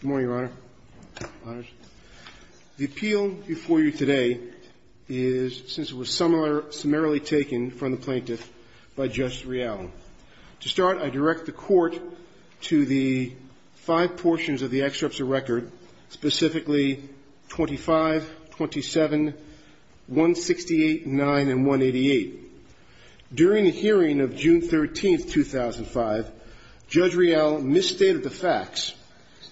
Good morning, Your Honor. The appeal before you today is, since it was summarily taken from the plaintiff, by Justice Reallo. To start, I direct the Court to the five portions of the excerpts of record, specifically 25, 27, 168, 9, and 188. During the hearing of June 13th, 2005, Judge Reallo misstated the facts,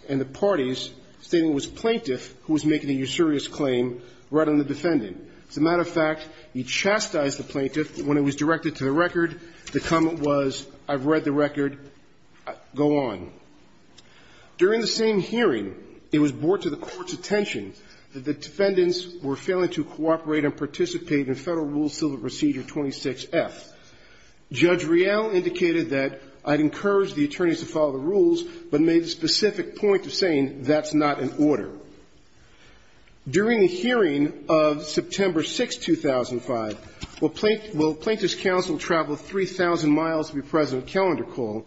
and the parties, stating it was a plaintiff who was making a usurious claim right on the defendant. As a matter of fact, he chastised the plaintiff when it was directed to the record. The comment was, I've read the record. Go on. During the same hearing, it was brought to the Court's attention that the defendants were failing to cooperate and participate in Federal Rule Civil Procedure 26F. Judge Reallo indicated that I'd encourage the attorneys to follow the rules, but made the specific point of saying that's not in order. During the hearing of September 6th, 2005, while plaintiff's counsel traveled 3,000 miles to be present at calendar call,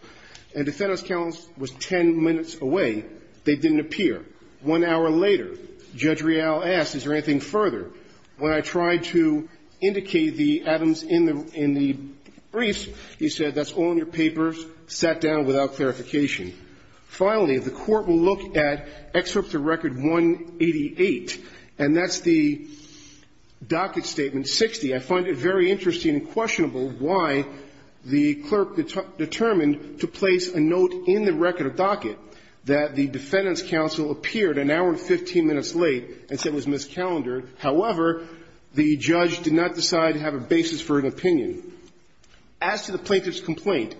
and defendant's counsel was 10 minutes away, they didn't appear. One hour later, Judge Reallo asked, is there anything further? When I tried to indicate the items in the briefs, he said, that's all in your papers, sat down without clarification. Finally, the Court will look at excerpt of record 188, and that's the docket statement 60. I find it very interesting and questionable why the clerk determined to place a note in the record docket that the plaintiff and the defendant's counsel appeared an hour and 15 minutes late and said it was miscalendared. However, the judge did not decide to have a basis for an opinion. As to the plaintiff's complaint,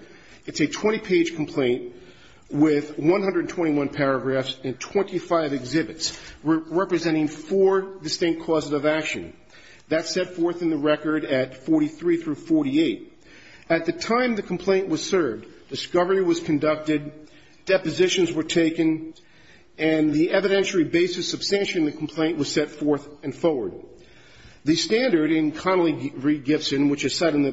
it's a 20-page complaint with 121 paragraphs and 25 exhibits, representing four distinct causes of action. That's set forth in the record at 43 through 48. At the time the complaint was served, discovery was conducted, depositions were taken, and the evidentiary basis of sanctioning the complaint was set forth and forward. The standard in Connolly v. Gibson, which is set in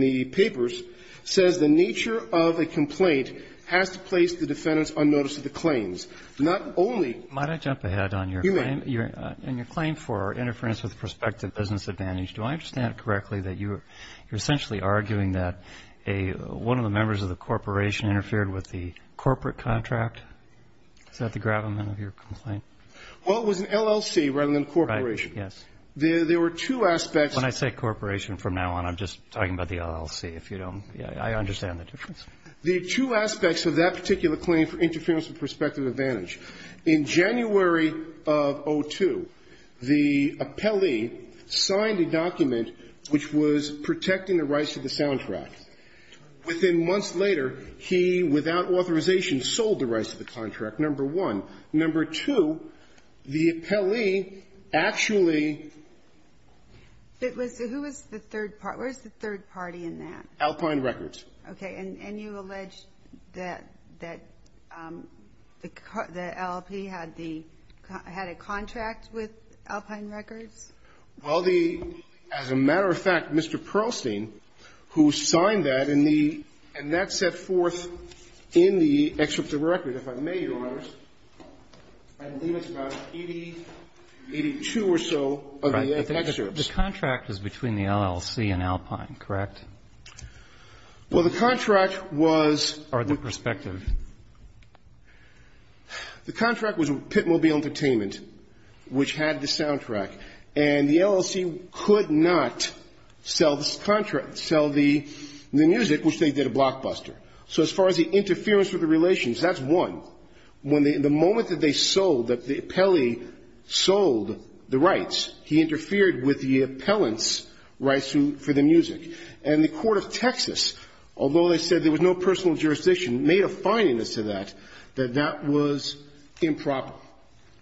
the papers, says the nature of a complaint has to place the defendant's unnoticeable claims. Not only ---- Roberts. Might I jump ahead on your claim? You may. In your claim for interference with prospective business advantage, do I understand correctly that you're essentially arguing that a one of the members of the corporation interfered with the corporate contract? Is that the gravamen of your complaint? Well, it was an LLC rather than a corporation. Right. Yes. There were two aspects ---- When I say corporation from now on, I'm just talking about the LLC. If you don't ---- I understand the difference. The two aspects of that particular claim for interference with prospective advantage, in January of 2002, the appellee signed a document which was protecting the rights to the soundtrack. Within months later, he, without authorization, sold the rights to the contract, number one. Number two, the appellee actually ---- It was the ---- who was the third party? Where's the third party in that? Alpine Records. Okay. And you allege that the LLP had the ---- had a contract with Alpine Records? Well, the ---- as a matter of fact, Mr. Pearlstein, who signed that and the ---- and that set forth in the excerpt of the record, if I may, Your Honors, I believe it's about 80, 82 or so of the excerpts. Right. But the contract is between the LLC and Alpine, correct? Well, the contract was ---- Or the prospective. The contract was with Pitmobile Entertainment, which had the soundtrack. And the LLC could not sell the contract, sell the music, which they did a blockbuster. So as far as the interference with the relations, that's one. When the ---- the moment that they sold, that the appellee sold the rights, he interfered with the appellant's rights to ---- for the music. And the court of Texas, although they said there was no personal jurisdiction made a fining as to that, that that was improper.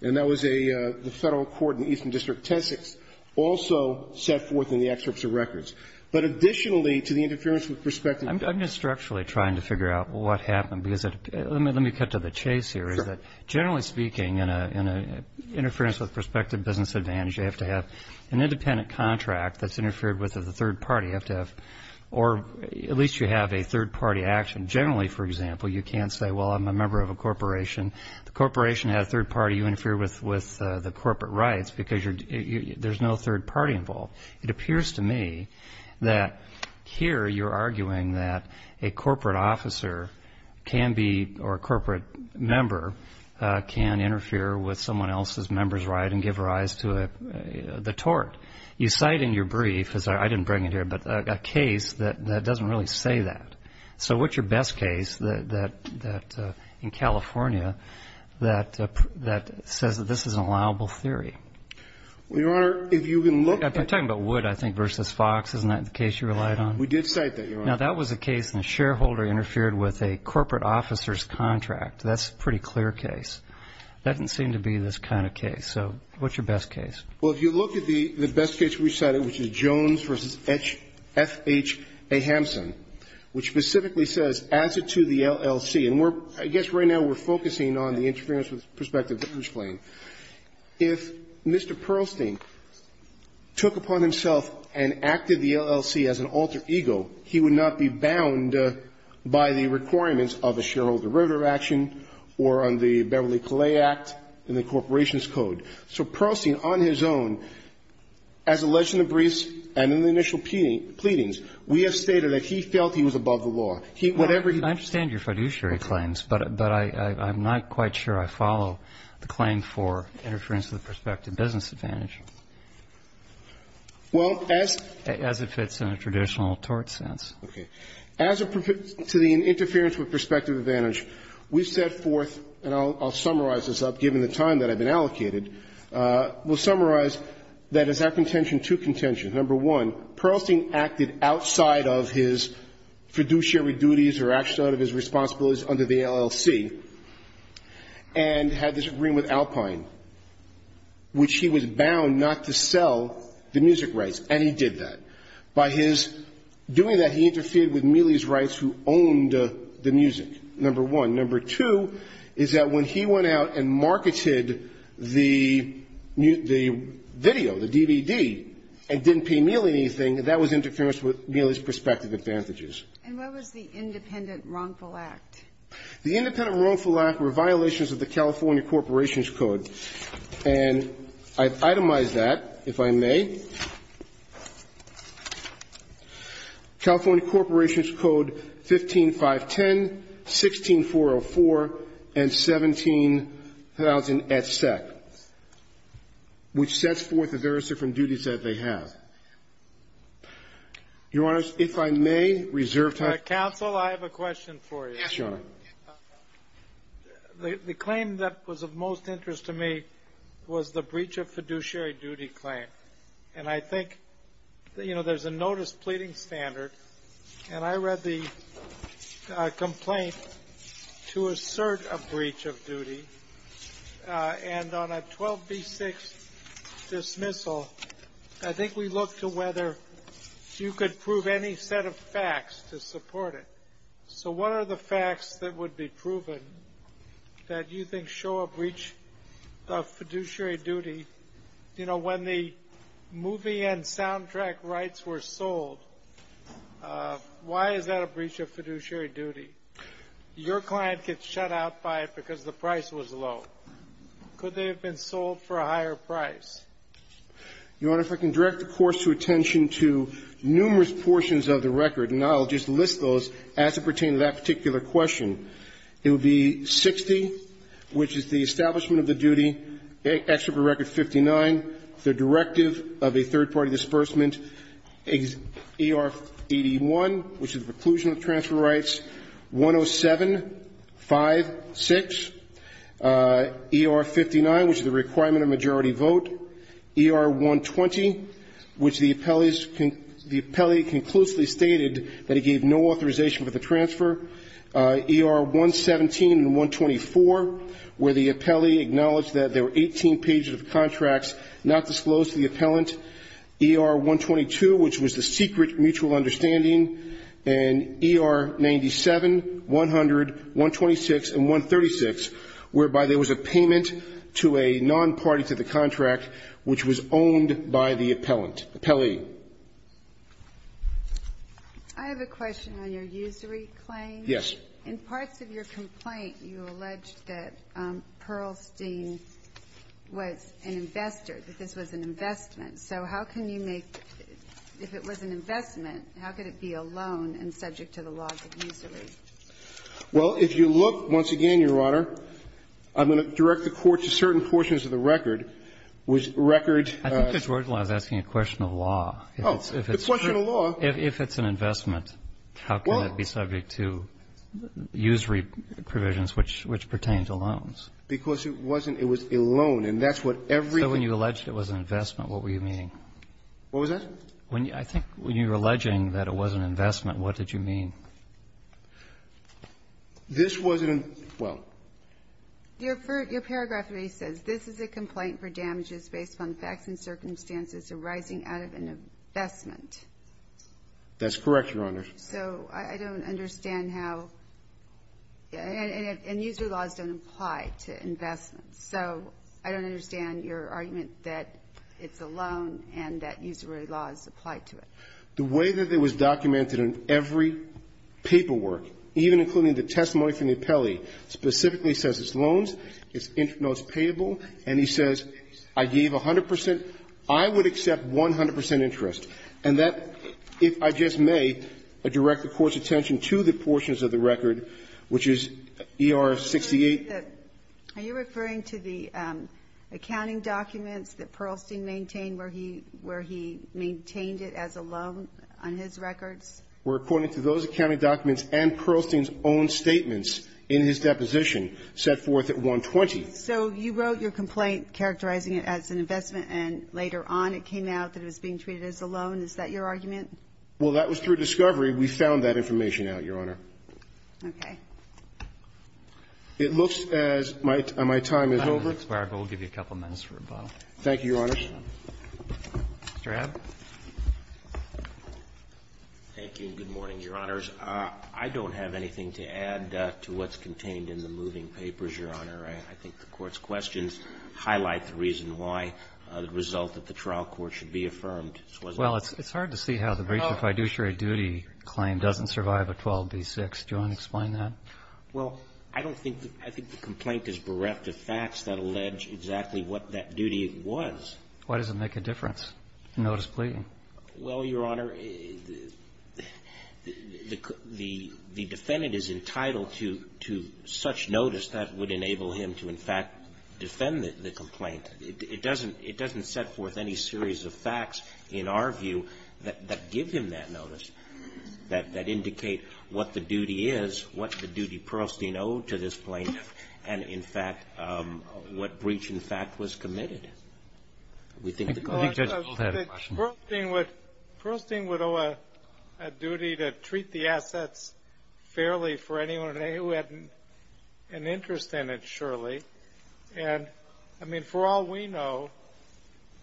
And that was a ---- the federal court in the Eastern District, Tessex, also set forth in the excerpts of records. But additionally to the interference with prospective ---- I'm just structurally trying to figure out what happened, because it ---- let me cut to the chase here, is that generally speaking, in an interference with prospective business advantage, you have to have an independent contract that's or at least you have a third-party action. Generally, for example, you can't say, well, I'm a member of a corporation. The corporation had a third party, you interfere with the corporate rights, because there's no third party involved. It appears to me that here you're arguing that a corporate officer can be, or a corporate member, can interfere with someone else's member's right and give rise to the tort. You cite in your brief, because I didn't bring it here, but a case that doesn't really say that. So what's your best case that, in California, that says that this is an allowable theory? Well, Your Honor, if you can look at ---- I'm talking about Wood, I think, versus Fox. Isn't that the case you relied on? We did cite that, Your Honor. Now, that was a case in the shareholder interfered with a corporate officer's contract. That's a pretty clear case. That doesn't seem to be this kind of case. So what's your best case? Well, if you look at the best case we cited, which is Jones v. F.H.A. Hampson, which specifically says, as to the LLC, and we're ---- I guess right now we're focusing on the interference perspective that he's playing. If Mr. Perlstein took upon himself and acted the LLC as an alter ego, he would not be bound by the requirements of a shareholder derivative action or on the Beverly Calais Act and the Corporation's Code. So Perlstein, on his own, as alleged in the briefs and in the initial pleadings, we have stated that he felt he was above the law. He, whatever he ---- I understand your fiduciary claims, but I'm not quite sure I follow the claim for interference with the perspective business advantage. Well, as ---- As if it's in a traditional tort sense. Okay. As a ---- to the interference with perspective advantage, we've set forth, and I'll summarize this up, given the time that I've been allocated, we'll summarize that as a contention to contention, number one, Perlstein acted outside of his fiduciary duties or action out of his responsibilities under the LLC and had this agreement with Alpine, which he was bound not to sell the music rights, and he did that. By his doing that, he interfered with Mealy's rights who owned the music, number one. Number two is that when he went out and marketed the video, the DVD, and didn't pay Mealy anything, that was interference with Mealy's perspective advantages. And what was the independent wrongful act? The independent wrongful act were violations of the California Corporations Code, and I've itemized that, if I may. California Corporations Code 15.510, 16.404, and 17,000, et cetera, which sets forth the various different duties that they have. Your Honor, if I may, reserve time. Counsel, I have a question for you. Yes, Your Honor. The claim that was of most interest to me was the breach of fiduciary duty claim. And I think, you know, there's a notice pleading standard, and I read the complaint to assert a breach of duty, and on a 12B6 dismissal, I think we looked to whether you could prove any set of facts to support it. So what are the facts that would be proven that you think show a breach of fiduciary duty? If movie and soundtrack rights were sold, why is that a breach of fiduciary duty? Your client gets shut out by it because the price was low. Could they have been sold for a higher price? Your Honor, if I can direct the Court's attention to numerous portions of the record, and I'll just list those as it pertains to that particular question. It would be 60, which is the establishment of the duty, extra for record 59, the directive of a third-party disbursement, ER 81, which is the preclusion of transfer rights, 107, 5, 6, ER 59, which is the requirement of majority vote, ER 120, which the appellee's con the appellee conclusively stated that he gave no authorization for the transfer, ER 117 and 124, where the appellee acknowledged that there were 18 pages of contracts not disclosed to the appellant, ER 122, which was the secret mutual understanding, and ER 97, 100, 126, and 136, whereby there was a payment to a non-party to the contract which was owned by the appellant, appellee. I have a question on your usury claim. Yes. In parts of your complaint, you alleged that Pearlstein was an investor, that this was an investment. So how can you make, if it was an investment, how could it be a loan and subject to the laws of usury? Well, if you look, once again, Your Honor, I'm going to direct the Court to certain portions of the record, which record the law. I think the court was asking a question of law. Oh, a question of law. If it's an investment, how can it be subject to usury provisions which pertain to loans? Because it wasn't – it was a loan, and that's what everything – So when you alleged it was an investment, what were you meaning? What was that? I think when you were alleging that it was an investment, what did you mean? This wasn't an – well. Your paragraph 3 says, This is a complaint for damages based on facts and circumstances arising out of an investment. That's correct, Your Honor. So I don't understand how – and usury laws don't apply to investments. So I don't understand your argument that it's a loan and that usury laws apply to it. The way that it was documented in every paperwork, even including the testimony from the appellee, specifically says it's loans, it's interest notes payable, and he says, I gave 100 percent, I would accept 100 percent interest, and that, if I just may, direct the Court's attention to the portions of the record, which is ER 68. Are you referring to the accounting documents that Pearlstein maintained where he – where he maintained it as a loan on his records? Where, according to those accounting documents and Pearlstein's own statements in his deposition, set forth at 120. So you wrote your complaint characterizing it as an investment, and later on it came out that it was being treated as a loan? Is that your argument? Well, that was through discovery. We found that information out, Your Honor. Okay. It looks as my – my time is over. I'm going to expire, but we'll give you a couple minutes for rebuttal. Thank you, Your Honor. Mr. Abbott. Thank you, and good morning, Your Honors. I don't have anything to add to what's contained in the moving papers, Your Honor. I think the Court's questions highlight the reason why the result of the trial court should be affirmed. Well, it's hard to see how the breach of fiduciary duty claim doesn't survive a 12b-6. Do you want to explain that? Well, I don't think the – I think the complaint is bereft of facts that allege exactly what that duty was. Why does it make a difference? Notice pleading. Well, Your Honor, the defendant is entitled to such notice that would enable him to, in fact, defend the complaint. It doesn't – it doesn't set forth any series of facts, in our view, that give him that notice, that indicate what the duty is, what the duty Pearlstein owed to this plaintiff, and, in fact, what breach, in fact, was committed. We think the – Well, I don't think Pearlstein would – Pearlstein would owe a duty to treat the assets fairly for anyone who had an interest in it, surely, and, I mean, for all we know,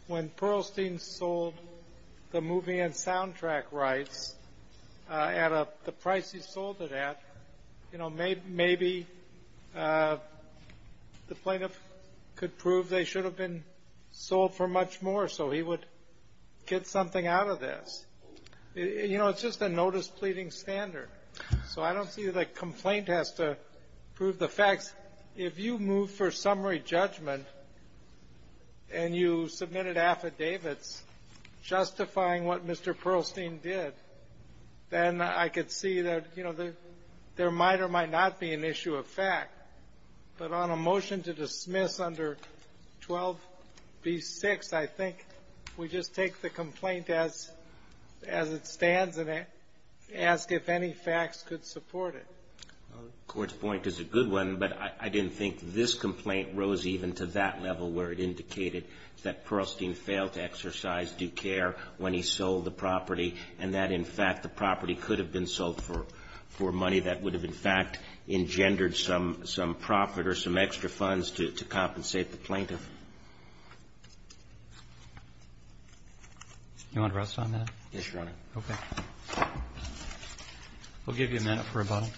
when Pearlstein sold the movie and soundtrack rights at the price he sold it at, you know, maybe the plaintiff could prove they should have been sold for much more so he would get something out of this. You know, it's just a notice pleading standard. So I don't see that a complaint has to prove the facts. If you move for summary judgment and you submitted affidavits justifying what Mr. There might or might not be an issue of fact, but on a motion to dismiss under 12b-6, I think we just take the complaint as – as it stands and ask if any facts could support it. The Court's point is a good one, but I didn't think this complaint rose even to that level where it indicated that Pearlstein failed to exercise due care when he sold the property and that, in fact, the property could have been sold for money that would have, in fact, engendered some profit or some extra funds to compensate the plaintiff. Do you want to rest on that? Yes, Your Honor. Okay. We'll give you a minute for rebuttal.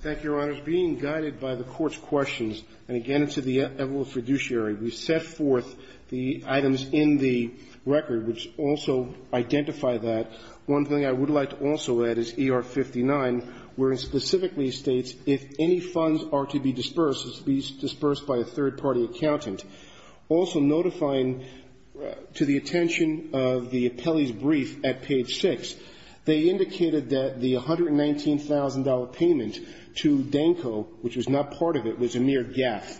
Thank you, Your Honors. Being guided by the Court's questions, and again to the evidence fiduciary, we set forth the items in the record which also identify that. One thing I would like to also add is ER-59, where it specifically states if any funds are to be disbursed, it's to be disbursed by a third-party accountant. Also notifying to the attention of the appellee's brief at page 6, they indicated that the $119,000 payment to Danco, which was not part of it, was a mere gaffe.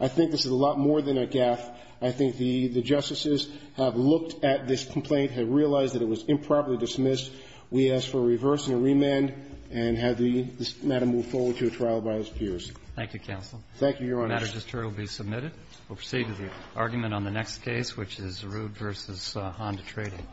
I think this is a lot more than a gaffe. I think the justices have looked at this complaint, have realized that it was improperly dismissed. We ask for a reverse and a remand and have this matter moved forward to a trial by its peers. Thank you, counsel. Thank you, Your Honors. The matter just heard will be submitted. We'll proceed to the argument on the next case, which is Zeroud v. Honda Trading.